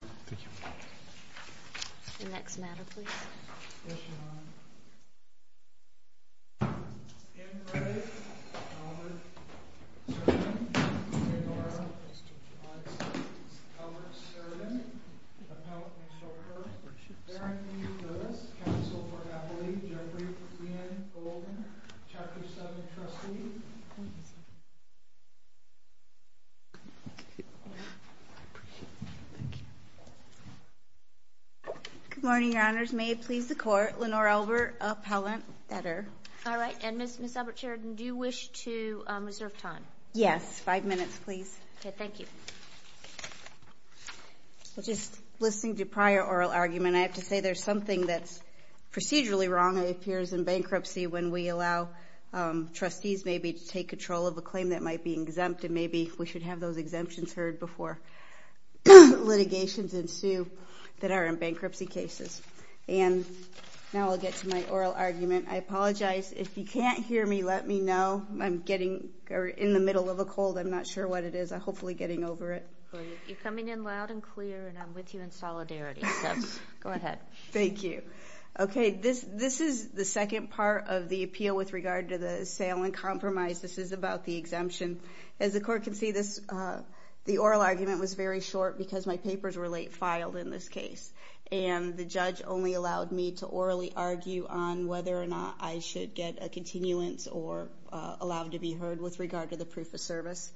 ALBERT-SHERIDAN, APPELLANT AND SHOPPER, BARRINGTON VILLAS, COUNCIL FOR HAPPINESS, GENERAL BRIEFING, GOLDEN, CHAPTER 7, TRUSTEE. Good morning, Your Honors, may it please the Court, Lenore Albert, Appellant, that her. All right. And Ms. Albert-Sheridan, do you wish to reserve time? Yes. Five minutes, please. Okay. Thank you. Well, just listening to your prior oral argument, I have to say there's something that's procedurally wrong that appears in bankruptcy when we allow trustees maybe to take control of a claim that might be exempt, and maybe we should have those exemptions heard before litigations ensue that are in bankruptcy cases. And now I'll get to my oral argument. I apologize. If you can't hear me, let me know. I'm getting in the middle of a cold. I'm not sure what it is. I'm hopefully getting over it. Well, you're coming in loud and clear, and I'm with you in solidarity, so go ahead. Thank you. Okay, this is the second part of the appeal with regard to the sale and compromise. This is about the exemption. As the Court can see, the oral argument was very short because my papers were late filed in this case, and the judge only allowed me to orally argue on whether or not I should get a continuance or allow it to be heard with regard to the proof of service.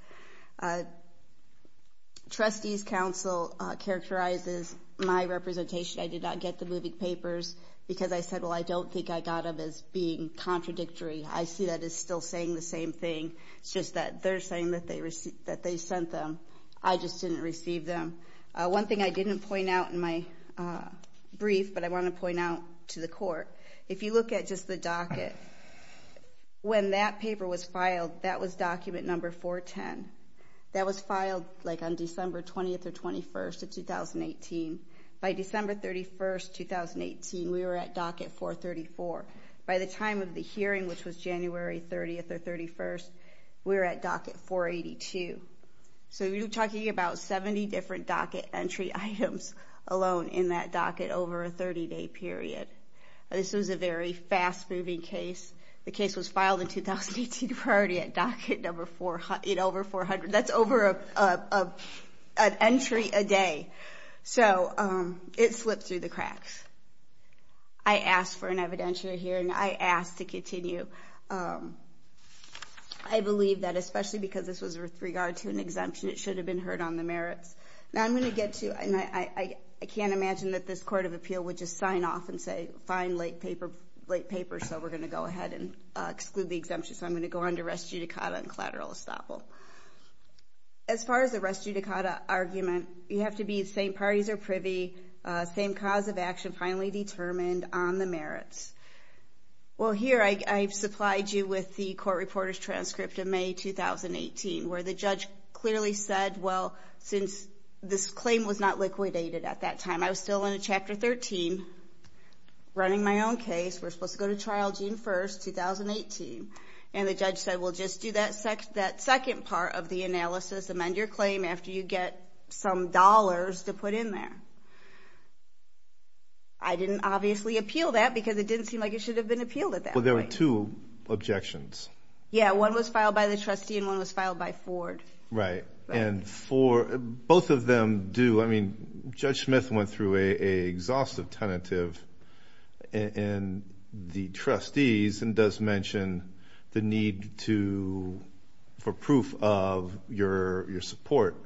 Trustees' counsel characterizes my representation. I did not get the moving papers because I said, well, I don't think I got them as being contradictory. I see that as still saying the same thing. It's just that they're saying that they sent them. I just didn't receive them. One thing I didn't point out in my brief, but I want to point out to the Court, if you look at just the docket, when that paper was filed, that was document number 410. That was filed like on December 20th or 21st of 2018. By December 31st, 2018, we were at docket 434. By the time of the hearing, which was January 30th or 31st, we were at docket 482. So you're talking about 70 different docket entry items alone in that docket over a 30-day period. This was a very fast-moving case. The case was filed in 2018 priority at docket over 400. That's over an entry a day. So it slipped through the cracks. I asked for an evidentiary hearing. I asked to continue. I believe that, especially because this was with regard to an exemption, it should have been heard on the merits. Now, I'm going to get to, and I can't imagine that this Court of Appeal would just sign off and say, fine, late paper, so we're going to go ahead and exclude the exemption. So I'm going to go under res judicata and collateral estoppel. As far as the res judicata argument, you have to be at the same parties or privy, same cause of action, finally determined on the merits. Well, here I've supplied you with the court reporter's transcript of May 2018, where the judge clearly said, well, since this claim was not liquidated at that time, I was still in Chapter 13, running my own case, we're supposed to go to trial June 1st, 2018, and the judge said, well, just do that second part of the analysis, amend your claim after you get some dollars to put in there. I didn't obviously appeal that, because it didn't seem like it should have been appealed at that point. Well, there were two objections. Yeah, one was filed by the trustee and one was filed by Ford. Right. And both of them do, I mean, Judge Smith went through a exhaustive tentative in the trustees and does mention the need for proof of your support.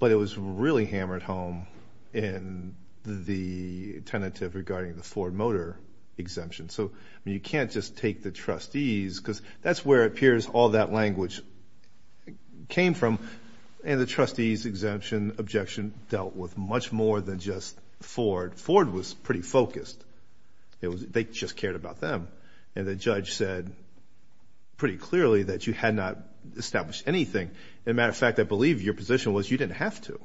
But it was really hammered home in the tentative regarding the Ford Motor exemption. So you can't just take the trustees, because that's where it appears all that language came from, and the trustees' exemption objection dealt with much more than just Ford. Ford was pretty focused. They just cared about them, and the judge said pretty clearly that you had not established anything. As a matter of fact, I believe your position was you didn't have to.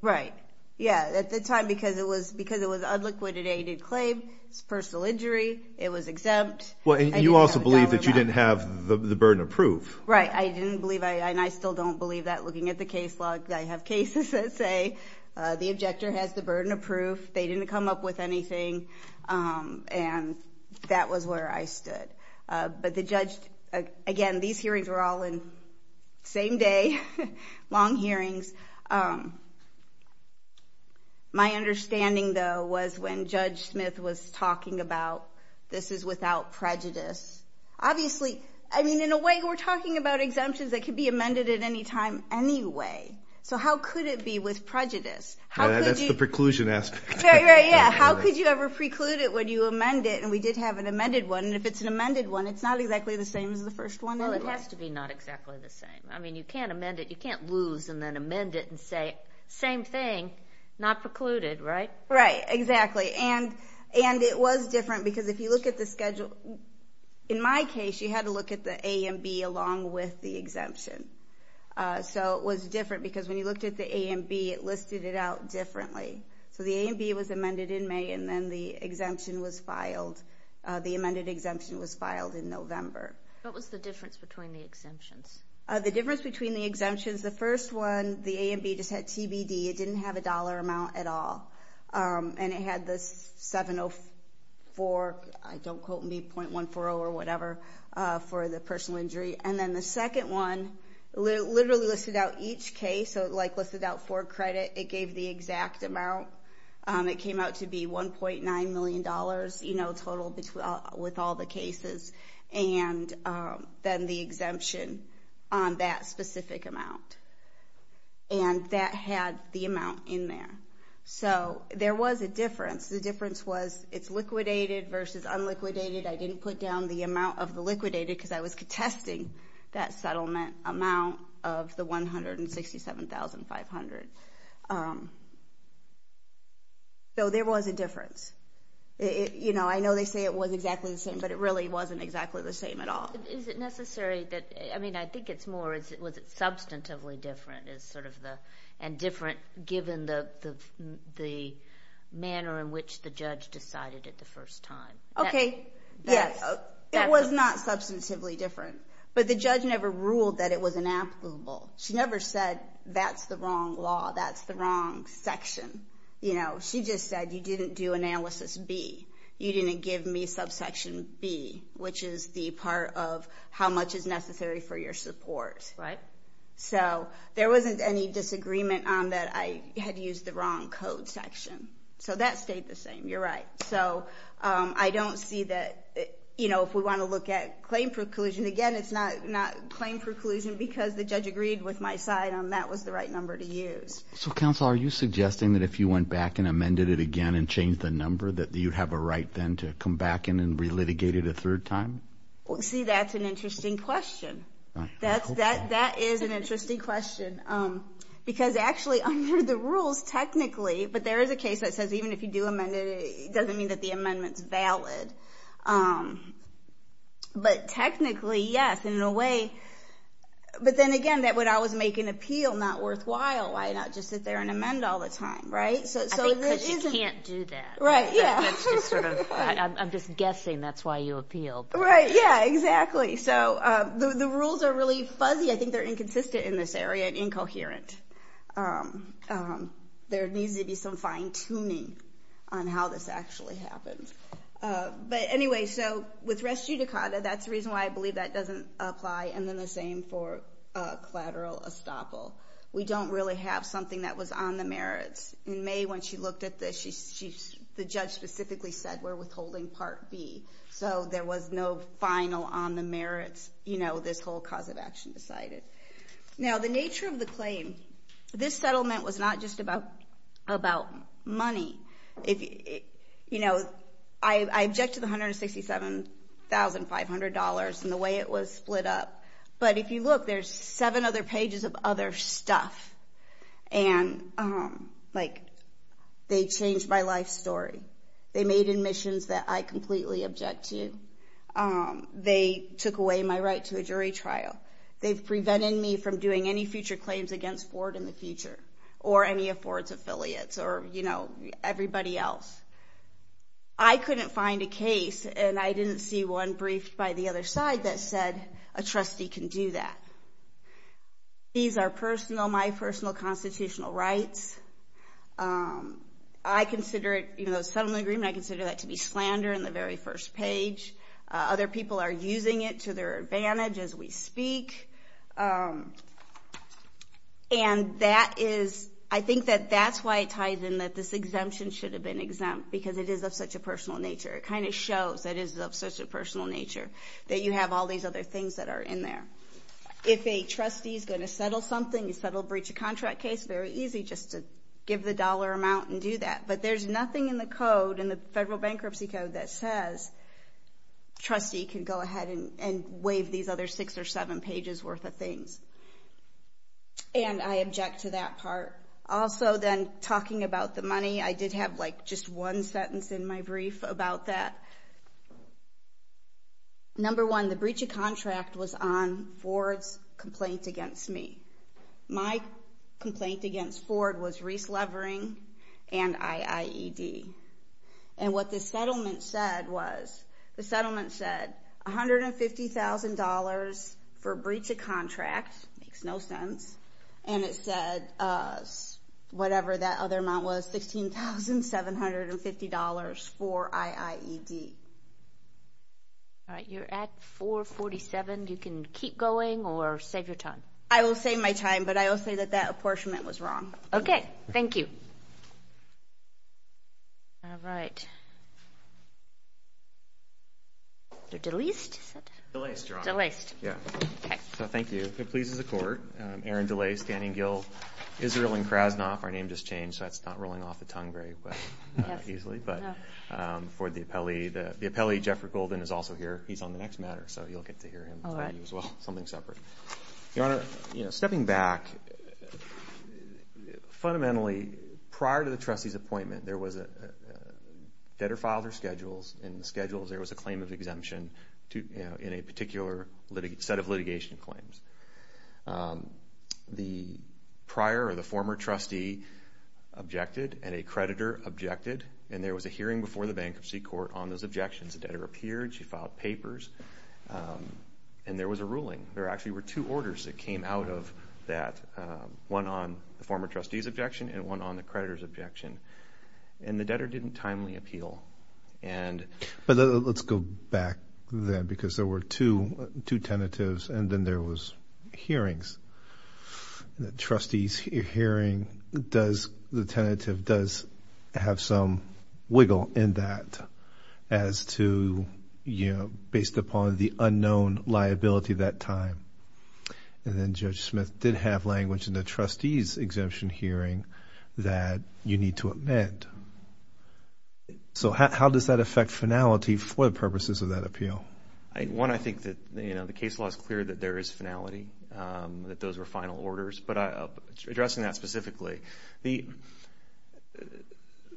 Right. Yeah. At the time, because it was an unliquidated claim, it's a personal injury, it was exempt. You also believe that you didn't have the burden of proof. Right. I didn't believe, and I still don't believe that looking at the case log. I have cases that say the objector has the burden of proof. They didn't come up with anything, and that was where I stood. But the judge, again, these hearings were all in the same day, long hearings. My understanding, though, was when Judge Smith was talking about, this is without prejudice. Obviously, I mean, in a way, we're talking about exemptions that could be amended at any time anyway. So how could it be with prejudice? How could you- That's the preclusion aspect. Right. Right. Yeah. How could you ever preclude it when you amend it? And we did have an amended one, and if it's an amended one, it's not exactly the same as the first one anyway. Well, it has to be not exactly the same. I mean, you can't amend it. You can't use and then amend it and say, same thing, not precluded, right? Right. Exactly. And it was different because if you look at the schedule, in my case, you had to look at the A and B along with the exemption. So it was different because when you looked at the A and B, it listed it out differently. So the A and B was amended in May, and then the exemption was filed. The amended exemption was filed in November. What was the difference between the exemptions? The difference between the exemptions, the first one, the A and B just had TBD. It didn't have a dollar amount at all. And it had this 704, I don't quote me, .140 or whatever for the personal injury. And then the second one literally listed out each case, so it listed out for credit. It gave the exact amount. It came out to be $1.9 million total with all the cases, and then the exemption on that specific amount. And that had the amount in there. So there was a difference. The difference was it's liquidated versus unliquidated. I didn't put down the amount of the liquidated because I was contesting that settlement amount of the $167,500. So there was a difference. I know they say it was exactly the same, but it really wasn't exactly the same at all. Is it necessary that, I mean, I think it's more, was it substantively different and different given the manner in which the judge decided it the first time? Okay, yes. It was not substantively different, but the judge never ruled that it was inapplicable. She never said, that's the wrong law, that's the wrong section. She just said, you didn't do analysis B. You didn't give me subsection B, which is the part of how much is necessary for your support. So there wasn't any disagreement on that I had used the wrong code section. So that stayed the same, you're right. So I don't see that, if we want to look at claim preclusion, again, it's not claim preclusion because the judge agreed with my side on that was the right number to use. So counsel, are you suggesting that if you went back and amended it again and changed the number, that you'd have a right then to come back in and re-litigate it a third time? See that's an interesting question. That is an interesting question. Because actually under the rules technically, but there is a case that says even if you amended it, it doesn't mean that the amendment's valid. But technically, yes, and in a way, but then again, that would always make an appeal not worthwhile. Why not just sit there and amend all the time, right? So this isn't- I think because you can't do that. Right, yeah. It's just sort of, I'm just guessing that's why you appealed. Right, yeah, exactly. So the rules are really fuzzy. I think they're inconsistent in this area and incoherent. And there needs to be some fine-tuning on how this actually happens. But anyway, so with res judicata, that's the reason why I believe that doesn't apply. And then the same for collateral estoppel. We don't really have something that was on the merits. In May when she looked at this, the judge specifically said, we're withholding part B. So there was no final on the merits, this whole cause of action decided. Now, the nature of the claim, this settlement was not just about money. You know, I object to the $167,500 and the way it was split up. But if you look, there's seven other pages of other stuff. And like, they changed my life story. They made admissions that I completely object to. They took away my right to a jury trial. They've prevented me from doing any future claims against Ford in the future, or any of Ford's affiliates, or, you know, everybody else. I couldn't find a case, and I didn't see one briefed by the other side that said, a trustee can do that. These are personal, my personal constitutional rights. I consider it, you know, the settlement agreement, I consider that to be slander in the very first page. Other people are using it to their advantage as we speak. And that is, I think that that's why it ties in that this exemption should have been exempt, because it is of such a personal nature. It kind of shows that it is of such a personal nature, that you have all these other things that are in there. If a trustee's going to settle something, you settle breach of contract case, very easy just to give the dollar amount and do that. But there's nothing in the code, in the federal bankruptcy code, that says trustee can go ahead and waive these other six or seven pages worth of things. And I object to that part. Also then, talking about the money, I did have like just one sentence in my brief about that. Number one, the breach of contract was on Ford's complaint against me. My complaint against Ford was Reese Levering and IIED. And what the settlement said was, the settlement said $150,000 for breach of contract, makes no sense. And it said, whatever that other amount was, $16,750 for IIED. All right, you're at 447, you can keep going or save your time? I will save my time, but I will say that that apportionment was wrong. Okay, thank you. All right. They're delaced, is that? Delaced, Your Honor. Delaced. Yeah. Okay. So thank you. It pleases the court. Aaron DeLay, Stanning Gill, Israel and Krasnoff, our name just changed, so that's not rolling off the tongue very easily. But for the appellee, the appellee, Jeffrey Golden, is also here. He's on the next matter, so you'll get to hear him as well, something separate. Your Honor, stepping back, fundamentally, prior to the trustee's appointment, there was a, debtor filed her schedules, and in the schedules there was a claim of exemption in a particular set of litigation claims. The prior or the former trustee objected, and a creditor objected, and there was a hearing before the bankruptcy court on those objections. The debtor appeared, she filed papers, and there was a ruling. There actually were two orders that came out of that, one on the former trustee's objection, and one on the creditor's objection, and the debtor didn't timely appeal, and- But let's go back then, because there were two tentatives, and then there was hearings, and the trustee's hearing does, the tentative does have some wiggle in that, as to, you know, based upon the unknown liability that time, and then Judge Smith did have language in the trustee's exemption hearing that you need to amend, so how does that affect finality for the purposes of that appeal? One, I think that, you know, the case law is clear that there is finality, that those were final orders, but addressing that specifically, the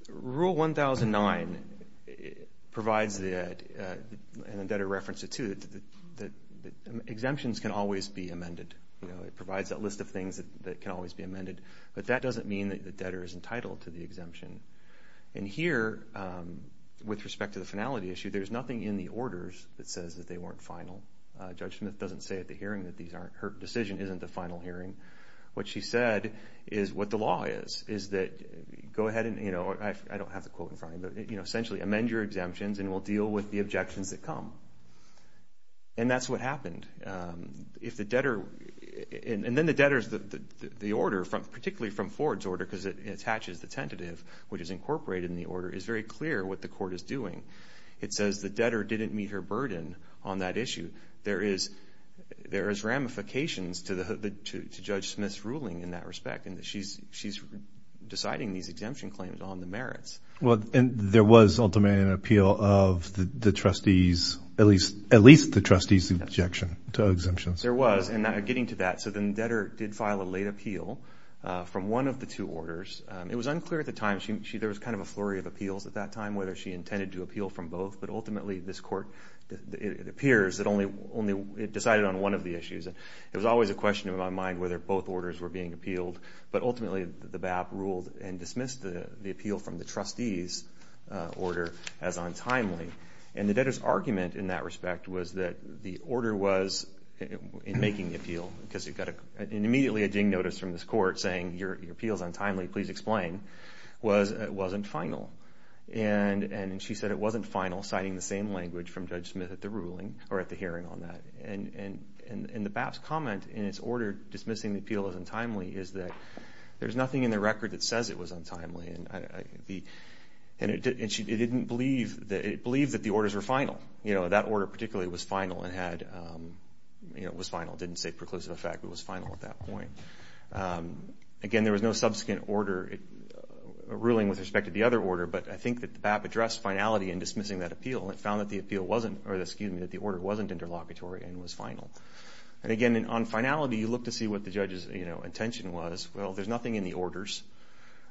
rule 1009 provides that, and the debtor referenced it too, that exemptions can always be amended, you know, it provides that list of things that can always be amended, but that doesn't mean that the debtor is entitled to the exemption. And here, with respect to the finality issue, there's nothing in the orders that says that they weren't final. Judge Smith doesn't say at the hearing that these aren't, her decision isn't the final hearing. What she said is what the law is, is that, go ahead and, you know, I don't have the quote in front of me, but, you know, essentially, amend your exemptions and we'll deal with the objections that come. And that's what happened. If the debtor, and then the debtor's, the order, particularly from Ford's order, because it attaches the tentative, which is incorporated in the order, is very clear what the court is doing. It says the debtor didn't meet her burden on that issue. There is, there is ramifications to the, to Judge Smith's ruling in that respect, and that she's, she's deciding these exemption claims on the merits. Well, and there was ultimately an appeal of the, the trustees, at least, at least the trustees' objection to exemptions. There was, and now getting to that, so then the debtor did file a late appeal from one of the two orders. It was unclear at the time, she, she, there was kind of a flurry of appeals at that time, whether she intended to appeal from both, but ultimately this appears that only, only it decided on one of the issues. And it was always a question in my mind whether both orders were being appealed. But ultimately, the BAP ruled and dismissed the, the appeal from the trustee's order as untimely. And the debtor's argument in that respect was that the order was, in making the appeal, because you've got a, an immediately a ding notice from this court saying your, your appeal's untimely, please explain, was, wasn't final. And, and she said it wasn't final, citing the same language from Judge Smith at the ruling, or at the hearing on that. And, and, and, and the BAP's comment in its order dismissing the appeal as untimely is that there's nothing in the record that says it was untimely. And I, I, the, and it didn't, it didn't believe that, it believed that the orders were final. You know, that order particularly was final and had you know, was final. Didn't say preclusive effect, but was final at that point. Again, there was no subsequent order ruling with respect to the other order, but I think that the BAP addressed finality in dismissing that appeal. It found that the appeal wasn't, or excuse me, that the order wasn't interlocutory and was final. And again, on finality, you look to see what the judge's, you know, intention was. Well, there's nothing in the orders.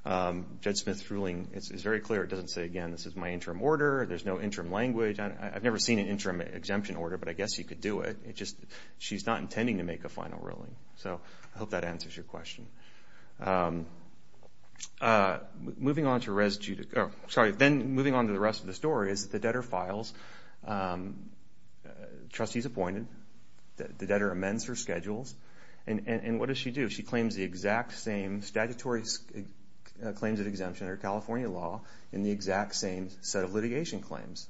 Judge Smith's ruling is, is very clear. It doesn't say, again, this is my interim order. There's no interim language. I, I've never seen an interim exemption order, but I guess you could do it. It just, she's not intending to make a final ruling. So, I hope that answers your question. Moving on to residue, sorry, then moving on to the rest of the story is that the debtor files, trustee's appointed, the debtor amends her schedules. And, and, and what does she do? She claims the exact same statutory claims of exemption under California law in the exact same set of litigation claims.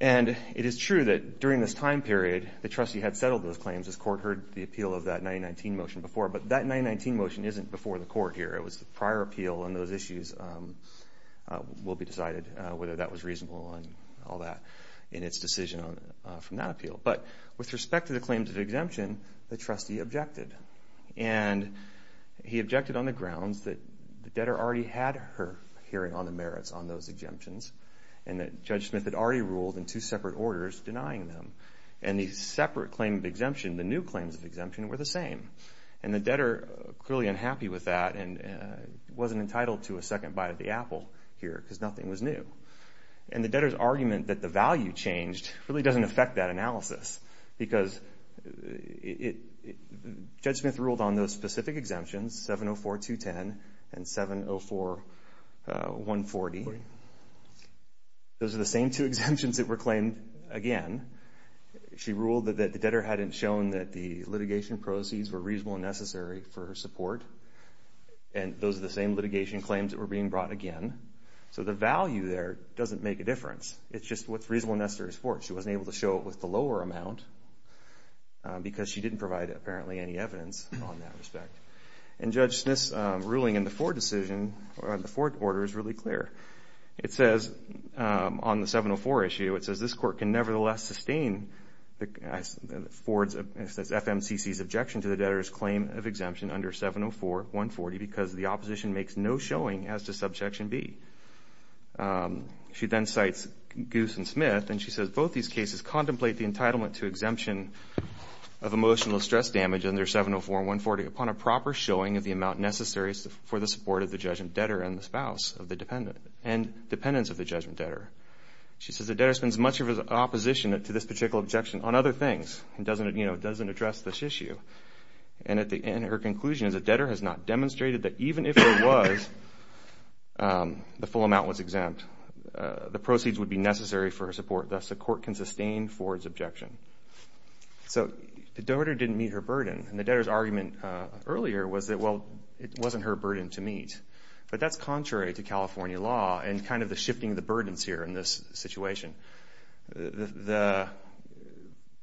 And it is true that during this time period, the trustee had settled those claims, as court heard the appeal of that 1919 motion before. But that 1919 motion isn't before the court here. It was the prior appeal, and those issues will be decided, whether that was reasonable and all that, in its decision on, from that appeal. But with respect to the claims of exemption, the trustee objected. And he objected on the grounds that the debtor already had her hearing on the merits on those exemptions, and that Judge Smith had already ruled in two separate orders denying them. And the separate claim of exemption, the new claims of exemption, were the same. And the debtor, clearly unhappy with that, and wasn't entitled to a second bite of the apple here, because nothing was new. And the debtor's argument that the value changed really doesn't affect that analysis. Because it, Judge Smith ruled on those specific exemptions, 704-210 and 704-140. Those are the same two exemptions that were claimed again. She ruled that the debtor hadn't shown that the litigation proceeds were reasonable and necessary for her support. And those are the same litigation claims that were being brought again. So the value there doesn't make a difference. It's just what's reasonable and necessary for her. She wasn't able to show it with the lower amount, because she didn't provide, apparently, any evidence on that respect. And Judge Smith's ruling in the Ford decision, or on the Ford order, is really clear. It says, on the 704 issue, it says, this court can nevertheless sustain Ford's FMCC's objection to the debtor's claim of exemption under 704-140, because the opposition makes no showing as to Subjection B. She then cites Goose and Smith, and she says, both these cases contemplate the entitlement to exemption of emotional stress damage under 704-140 upon a proper showing of the amount necessary for the support of the judge and debtor and the spouse of the dependent. And dependence of the judgment debtor. She says, the debtor spends much of his opposition to this particular objection on other things. It doesn't, you know, it doesn't address this issue. And at the end, her conclusion is, the debtor has not demonstrated that even if there was the full amount was exempt, the proceeds would be necessary for her support. Thus, the court can sustain Ford's objection. So the debtor didn't meet her burden. And the debtor's argument earlier was that, well, it wasn't her burden to meet. But that's contrary to California law and kind of the shifting of the burdens here in this situation. The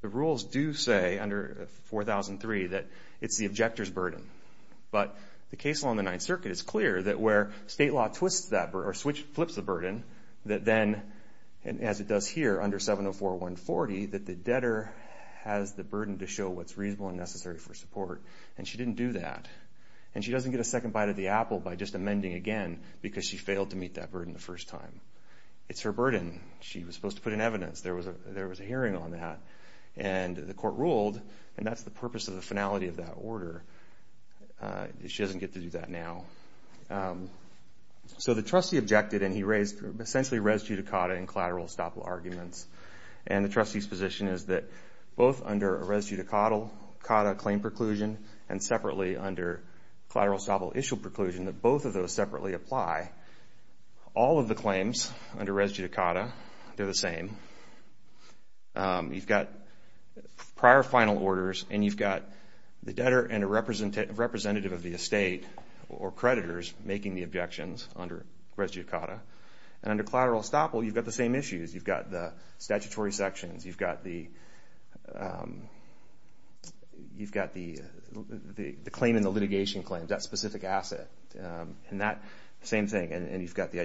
rules do say under 4003 that it's the objector's burden. But the case along the Ninth Circuit is clear that where state law flips the burden, that then, as it does here under 704-140, that the debtor has the burden to show what's reasonable and necessary for support. And she didn't do that. And she doesn't get a second bite of the apple by just amending again because she failed to meet that burden the first time. It's her burden. She was supposed to put in evidence. There was a hearing on that. And the court ruled, and that's the purpose of the finality of that order. She doesn't get to do that now. So the trustee objected, and he raised essentially res judicata and collateral estoppel arguments. And the trustee's position is that both under a res judicata claim preclusion and separately under collateral estoppel issue preclusion, that both of those separately apply. All of the claims under res judicata, they're the same. You've got prior final orders, and you've got the debtor and a representative of the estate or creditors making the objections under res judicata. And under collateral estoppel, you've got the same issues. You've got the statutory sections. You've got the claim in the litigation claims, that specific asset, and that same thing. And you've got the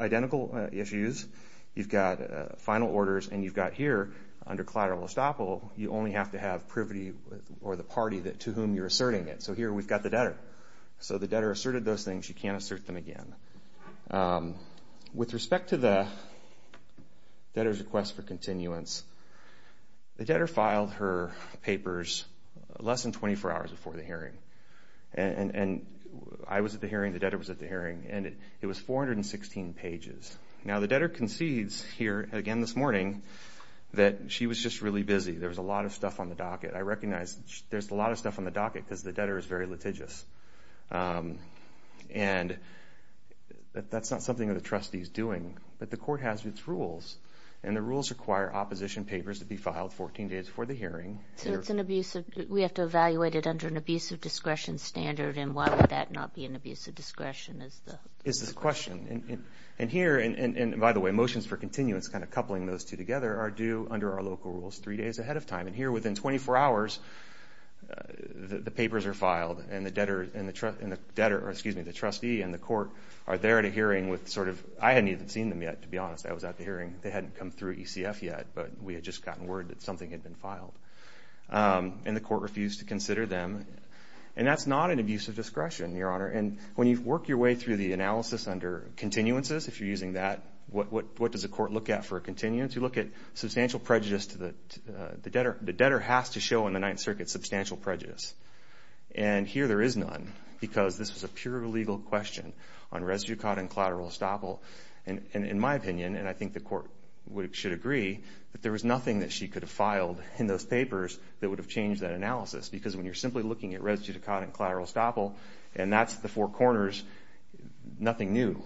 identical issues. You've got final orders, and you've got here under collateral estoppel, you only have to have privity or the party to whom you're asserting it. So here we've got the debtor. So the debtor asserted those things. You can't assert them again. With respect to the debtor's request for continuance, the debtor filed her papers less than 24 hours before the hearing. And I was at the hearing, the debtor was at the hearing, and it was 416 pages. Now the debtor concedes here again this morning that she was just really busy. There was a lot of stuff on the docket. I recognize there's a lot of stuff on the docket because the debtor is very litigious. And that's not something that the trustee is doing, but the court has its rules. And the rules require opposition papers to be filed 14 days before the hearing. So it's an abusive, we have to evaluate it under an abusive discretion standard, and why would that not be an abusive discretion? Is the question. And here, and by the way, motions for continuance, kind of coupling those two together, are due under our local rules three days ahead of time. And here, within 24 hours, the papers are filed, and the debtor, excuse me, the trustee and the court are there at a hearing with sort of, I hadn't even seen them yet, to be honest, I was at the hearing, they hadn't come through ECF yet, but we had just gotten word that something had been filed. And the court refused to consider them. And that's not an abusive discretion, Your Honor. And when you work your way through the analysis under continuances, if you're using that, what does the court look at for continuance? You look at substantial prejudice to the debtor. The debtor has to show in the Ninth Circuit substantial prejudice. And here there is none, because this is a pure legal question on res judicata and collateral estoppel. And in my opinion, and I think the court should agree, that there was nothing that she could have filed in those papers that would have changed that analysis. Because when you're simply looking at res judicata and collateral estoppel, and that's the four corners, nothing new,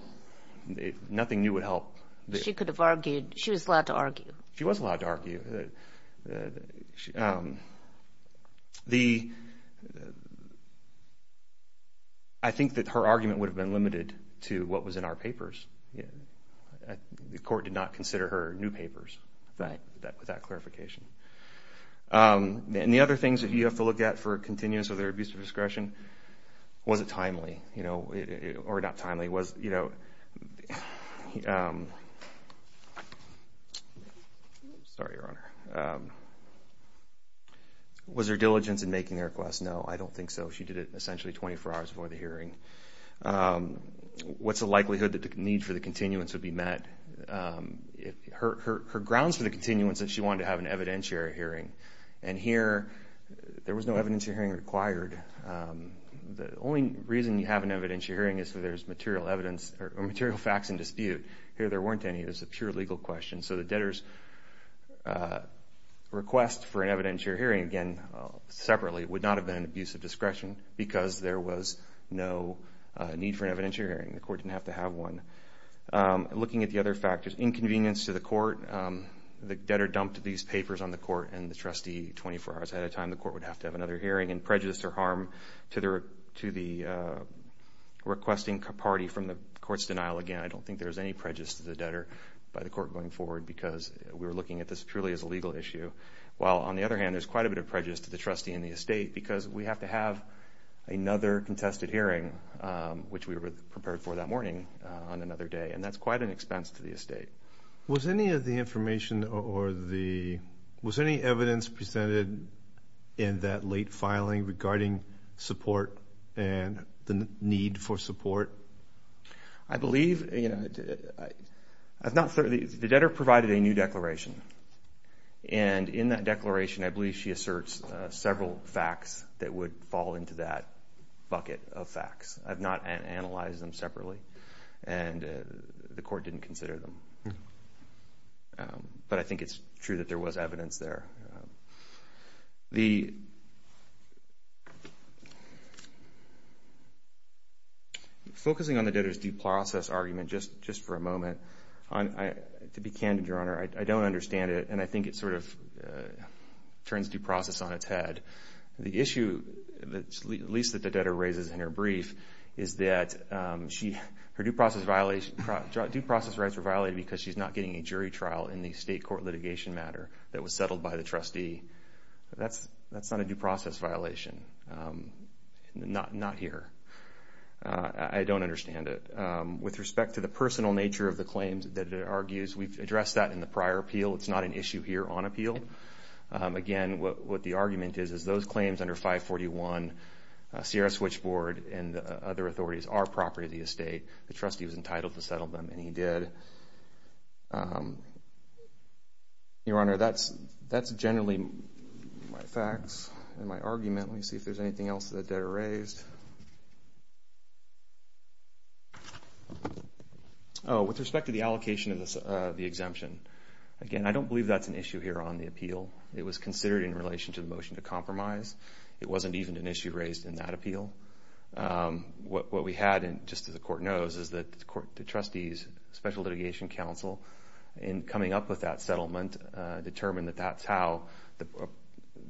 nothing new would help. She could have argued, she was allowed to argue. She was allowed to argue. The, I think that her argument would have been limited to what was in our papers. The court did not consider her new papers with that clarification. And the other things that you have to look at for continuance of their abusive discretion, was it timely, you know, or not timely? Was, you know, sorry, Your Honor. Was there diligence in making the request? No, I don't think so. She did it essentially 24 hours before the hearing. What's the likelihood that the need for the continuance would be met? Her grounds for the continuance is she wanted to have an evidentiary hearing. And here, there was no evidentiary hearing required. The only reason you have an evidentiary hearing is so there's material evidence, or material facts in dispute. Here, there weren't any. It was a pure legal question. So, the debtor's request for an evidentiary hearing, again, separately, would not have been an abusive discretion, because there was no need for an evidentiary hearing. The court didn't have to have one. Looking at the other factors, inconvenience to the court. The debtor dumped these papers on the court, and the trustee, 24 hours ahead of time, the court would have to have another hearing. Again, prejudice or harm to the requesting party from the court's denial. Again, I don't think there's any prejudice to the debtor by the court going forward, because we were looking at this purely as a legal issue. While, on the other hand, there's quite a bit of prejudice to the trustee and the estate, because we have to have another contested hearing, which we were prepared for that morning, on another day. And that's quite an expense to the estate. Was any of the information or the, was any evidence presented in that late filing regarding support and the need for support? I believe, you know, I've not, the debtor provided a new declaration. And in that declaration, I believe she asserts several facts that would fall into that bucket of facts. I've not analyzed them separately. And the court didn't consider them. But I think it's true that there was evidence there. The, focusing on the debtor's due process argument, just for a moment, to be candid, Your Honor, I don't understand it. And I think it sort of turns due process on its head. The issue, at least that the debtor raises in her brief, is that she, her due process violation, due process rights were violated because she's not getting a jury trial in the state court litigation matter that was settled by the trustee. That's not a due process violation. Not here. I don't understand it. With respect to the personal nature of the claims that the debtor argues, we've addressed that in the prior appeal. It's not an issue here on appeal. Again, what the argument is, is those claims under 541, Sierra Switchboard and the other authorities are property of the estate. The trustee was entitled to settle them. And he did. Your Honor, that's generally my facts and my argument. Let me see if there's anything else that the debtor raised. Oh, with respect to the allocation of the exemption. Again, I don't believe that's an issue here on the appeal. It was considered in relation to the motion to compromise. It wasn't even an issue raised in that appeal. What we had, and just as the court knows, is that the trustees, Special Litigation Council, in coming up with that settlement, determined that that's how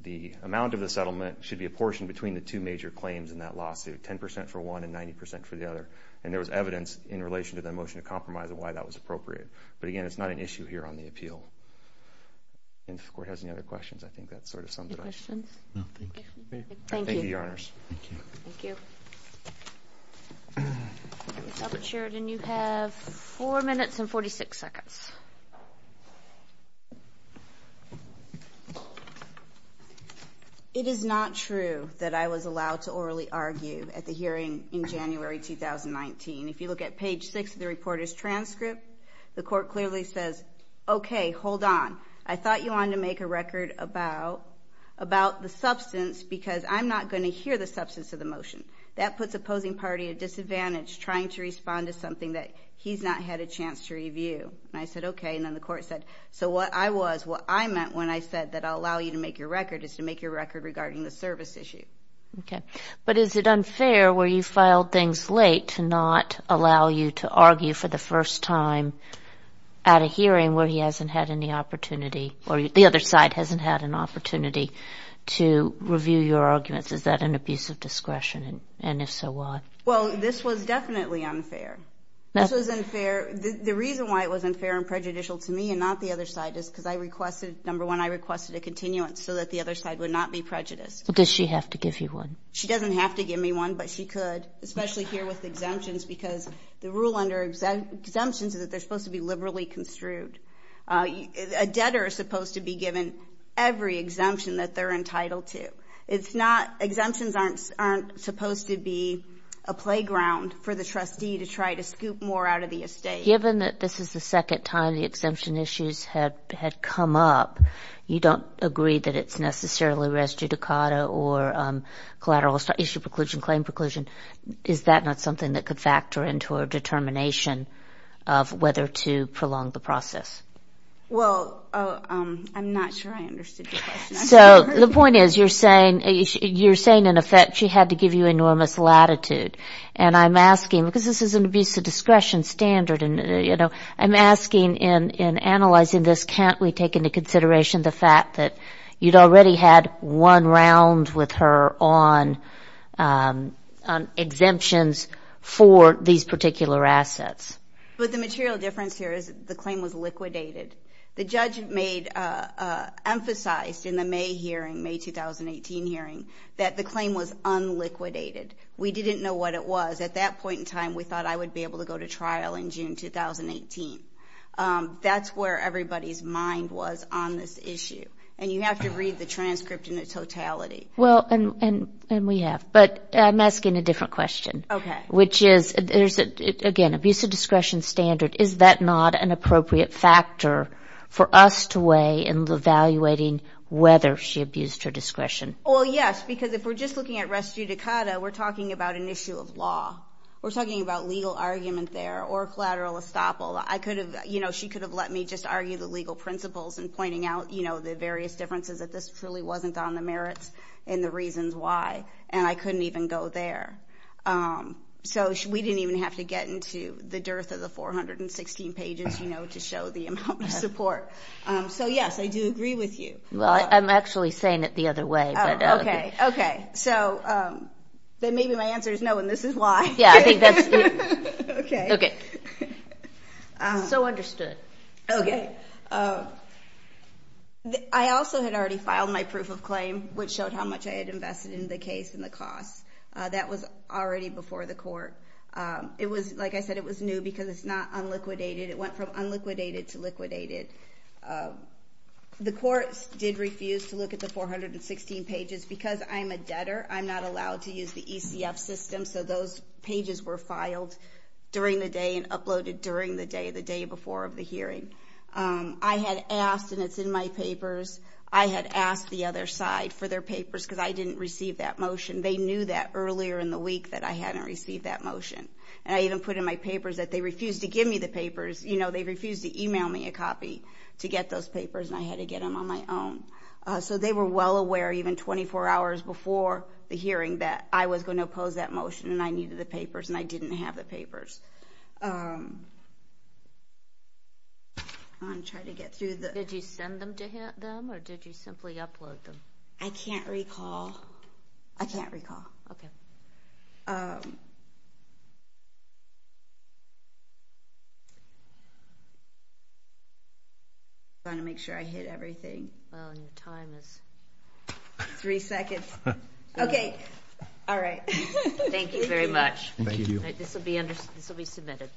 the amount of the settlement should be a portion between the two major claims in that lawsuit, 10% for one and 90% for the other. And there was evidence in relation to the motion to compromise and why that was appropriate. But again, it's not an issue here on the appeal. And if the court has any other questions, I think that's sort of summed it up. Any questions? No, thank you. Thank you, Your Honors. Thank you. Thank you. Ms. Elbert-Sheridan, you have four minutes and 46 seconds. It is not true that I was allowed to orally argue at the hearing in January 2019. If you look at page six of the reporter's transcript, the court clearly says, okay, hold on, I thought you wanted to make a record about the substance because I'm not going to hear the substance of the motion. That puts opposing party at disadvantage trying to respond to something that he's not had a chance to review. And I said, okay. And then the court said, so what I was, what I meant when I said that I'll allow you to make your record is to make your record regarding the service issue. Okay. But is it unfair where you filed things late to not allow you to argue for the first time at a hearing where he hasn't had any opportunity or the other side hasn't had an opportunity to review your arguments? Is that an abuse of discretion? And if so, why? Well, this was definitely unfair. This was unfair. The reason why it was unfair and prejudicial to me and not the other side is because I requested, number one, I requested a continuance so that the other side would not be prejudiced. But does she have to give you one? She doesn't have to give me one, but she could, especially here with exemptions because the rule under exemptions is that they're supposed to be liberally construed. A debtor is supposed to be given every exemption that they're entitled to. It's not, exemptions aren't supposed to be a playground for the trustee to try to scoop more out of the estate. Given that this is the second time the exemption issues had come up, you don't agree that it's necessarily res judicata or collateral issue preclusion, claim preclusion, is that not something that could factor into a determination of whether to prolong the process? Well, I'm not sure I understood your question. So, the point is, you're saying, you're saying in effect she had to give you enormous latitude. And I'm asking, because this is an abuse of discretion standard and, you know, I'm asking in analyzing this, can't we take into consideration the fact that you'd already had one round with her on exemptions for these particular assets? But the material difference here is the claim was liquidated. The judge made, emphasized in the May hearing, May 2018 hearing, that the claim was unliquidated. We didn't know what it was. At that point in time, we thought I would be able to go to trial in June 2018. That's where everybody's mind was on this issue. And you have to read the transcript in its totality. Well, and we have, but I'm asking a different question. Okay. Which is, there's, again, abuse of discretion standard, is that not an appropriate factor for us to weigh in evaluating whether she abused her discretion? Well, yes, because if we're just looking at res judicata, we're talking about an issue of law. We're talking about legal argument there or collateral estoppel. I could have, you know, she could have let me just argue the legal principles and pointing out, you know, the various differences that this truly wasn't on the merits and the reasons why. And I couldn't even go there. So we didn't even have to get into the dearth of the 416 pages, you know, to show the amount of support. So, yes, I do agree with you. Well, I'm actually saying it the other way. Oh, okay. Okay. So then maybe my answer is no, and this is why. Yeah, I think that's, okay. Okay. So understood. Okay. I also had already filed my proof of claim, which showed how much I had invested in the case and the cost. That was already before the court. It was, like I said, it was new because it's not unliquidated. It went from unliquidated to liquidated. The courts did refuse to look at the 416 pages. Because I'm a debtor, I'm not allowed to use the ECF system. So those pages were filed during the day and uploaded during the day, the day before of the hearing. I had asked, and it's in my papers, I had asked the other side for their papers because I didn't receive that motion. They knew that earlier in the week that I hadn't received that motion. And I even put in my papers that they refused to give me the papers. You know, they refused to email me a copy to get those papers, and I had to get them on my own. So they were well aware, even 24 hours before the hearing, that I was going to oppose that motion, and I needed the papers, and I didn't have the papers. I'm going to try to get through the. Did you send them to them, or did you simply upload them? I can't recall. I can't recall. Okay. I'm trying to make sure I hit everything. Well, your time is three seconds. Okay. All right. Thank you very much. Thank you. This will be submitted.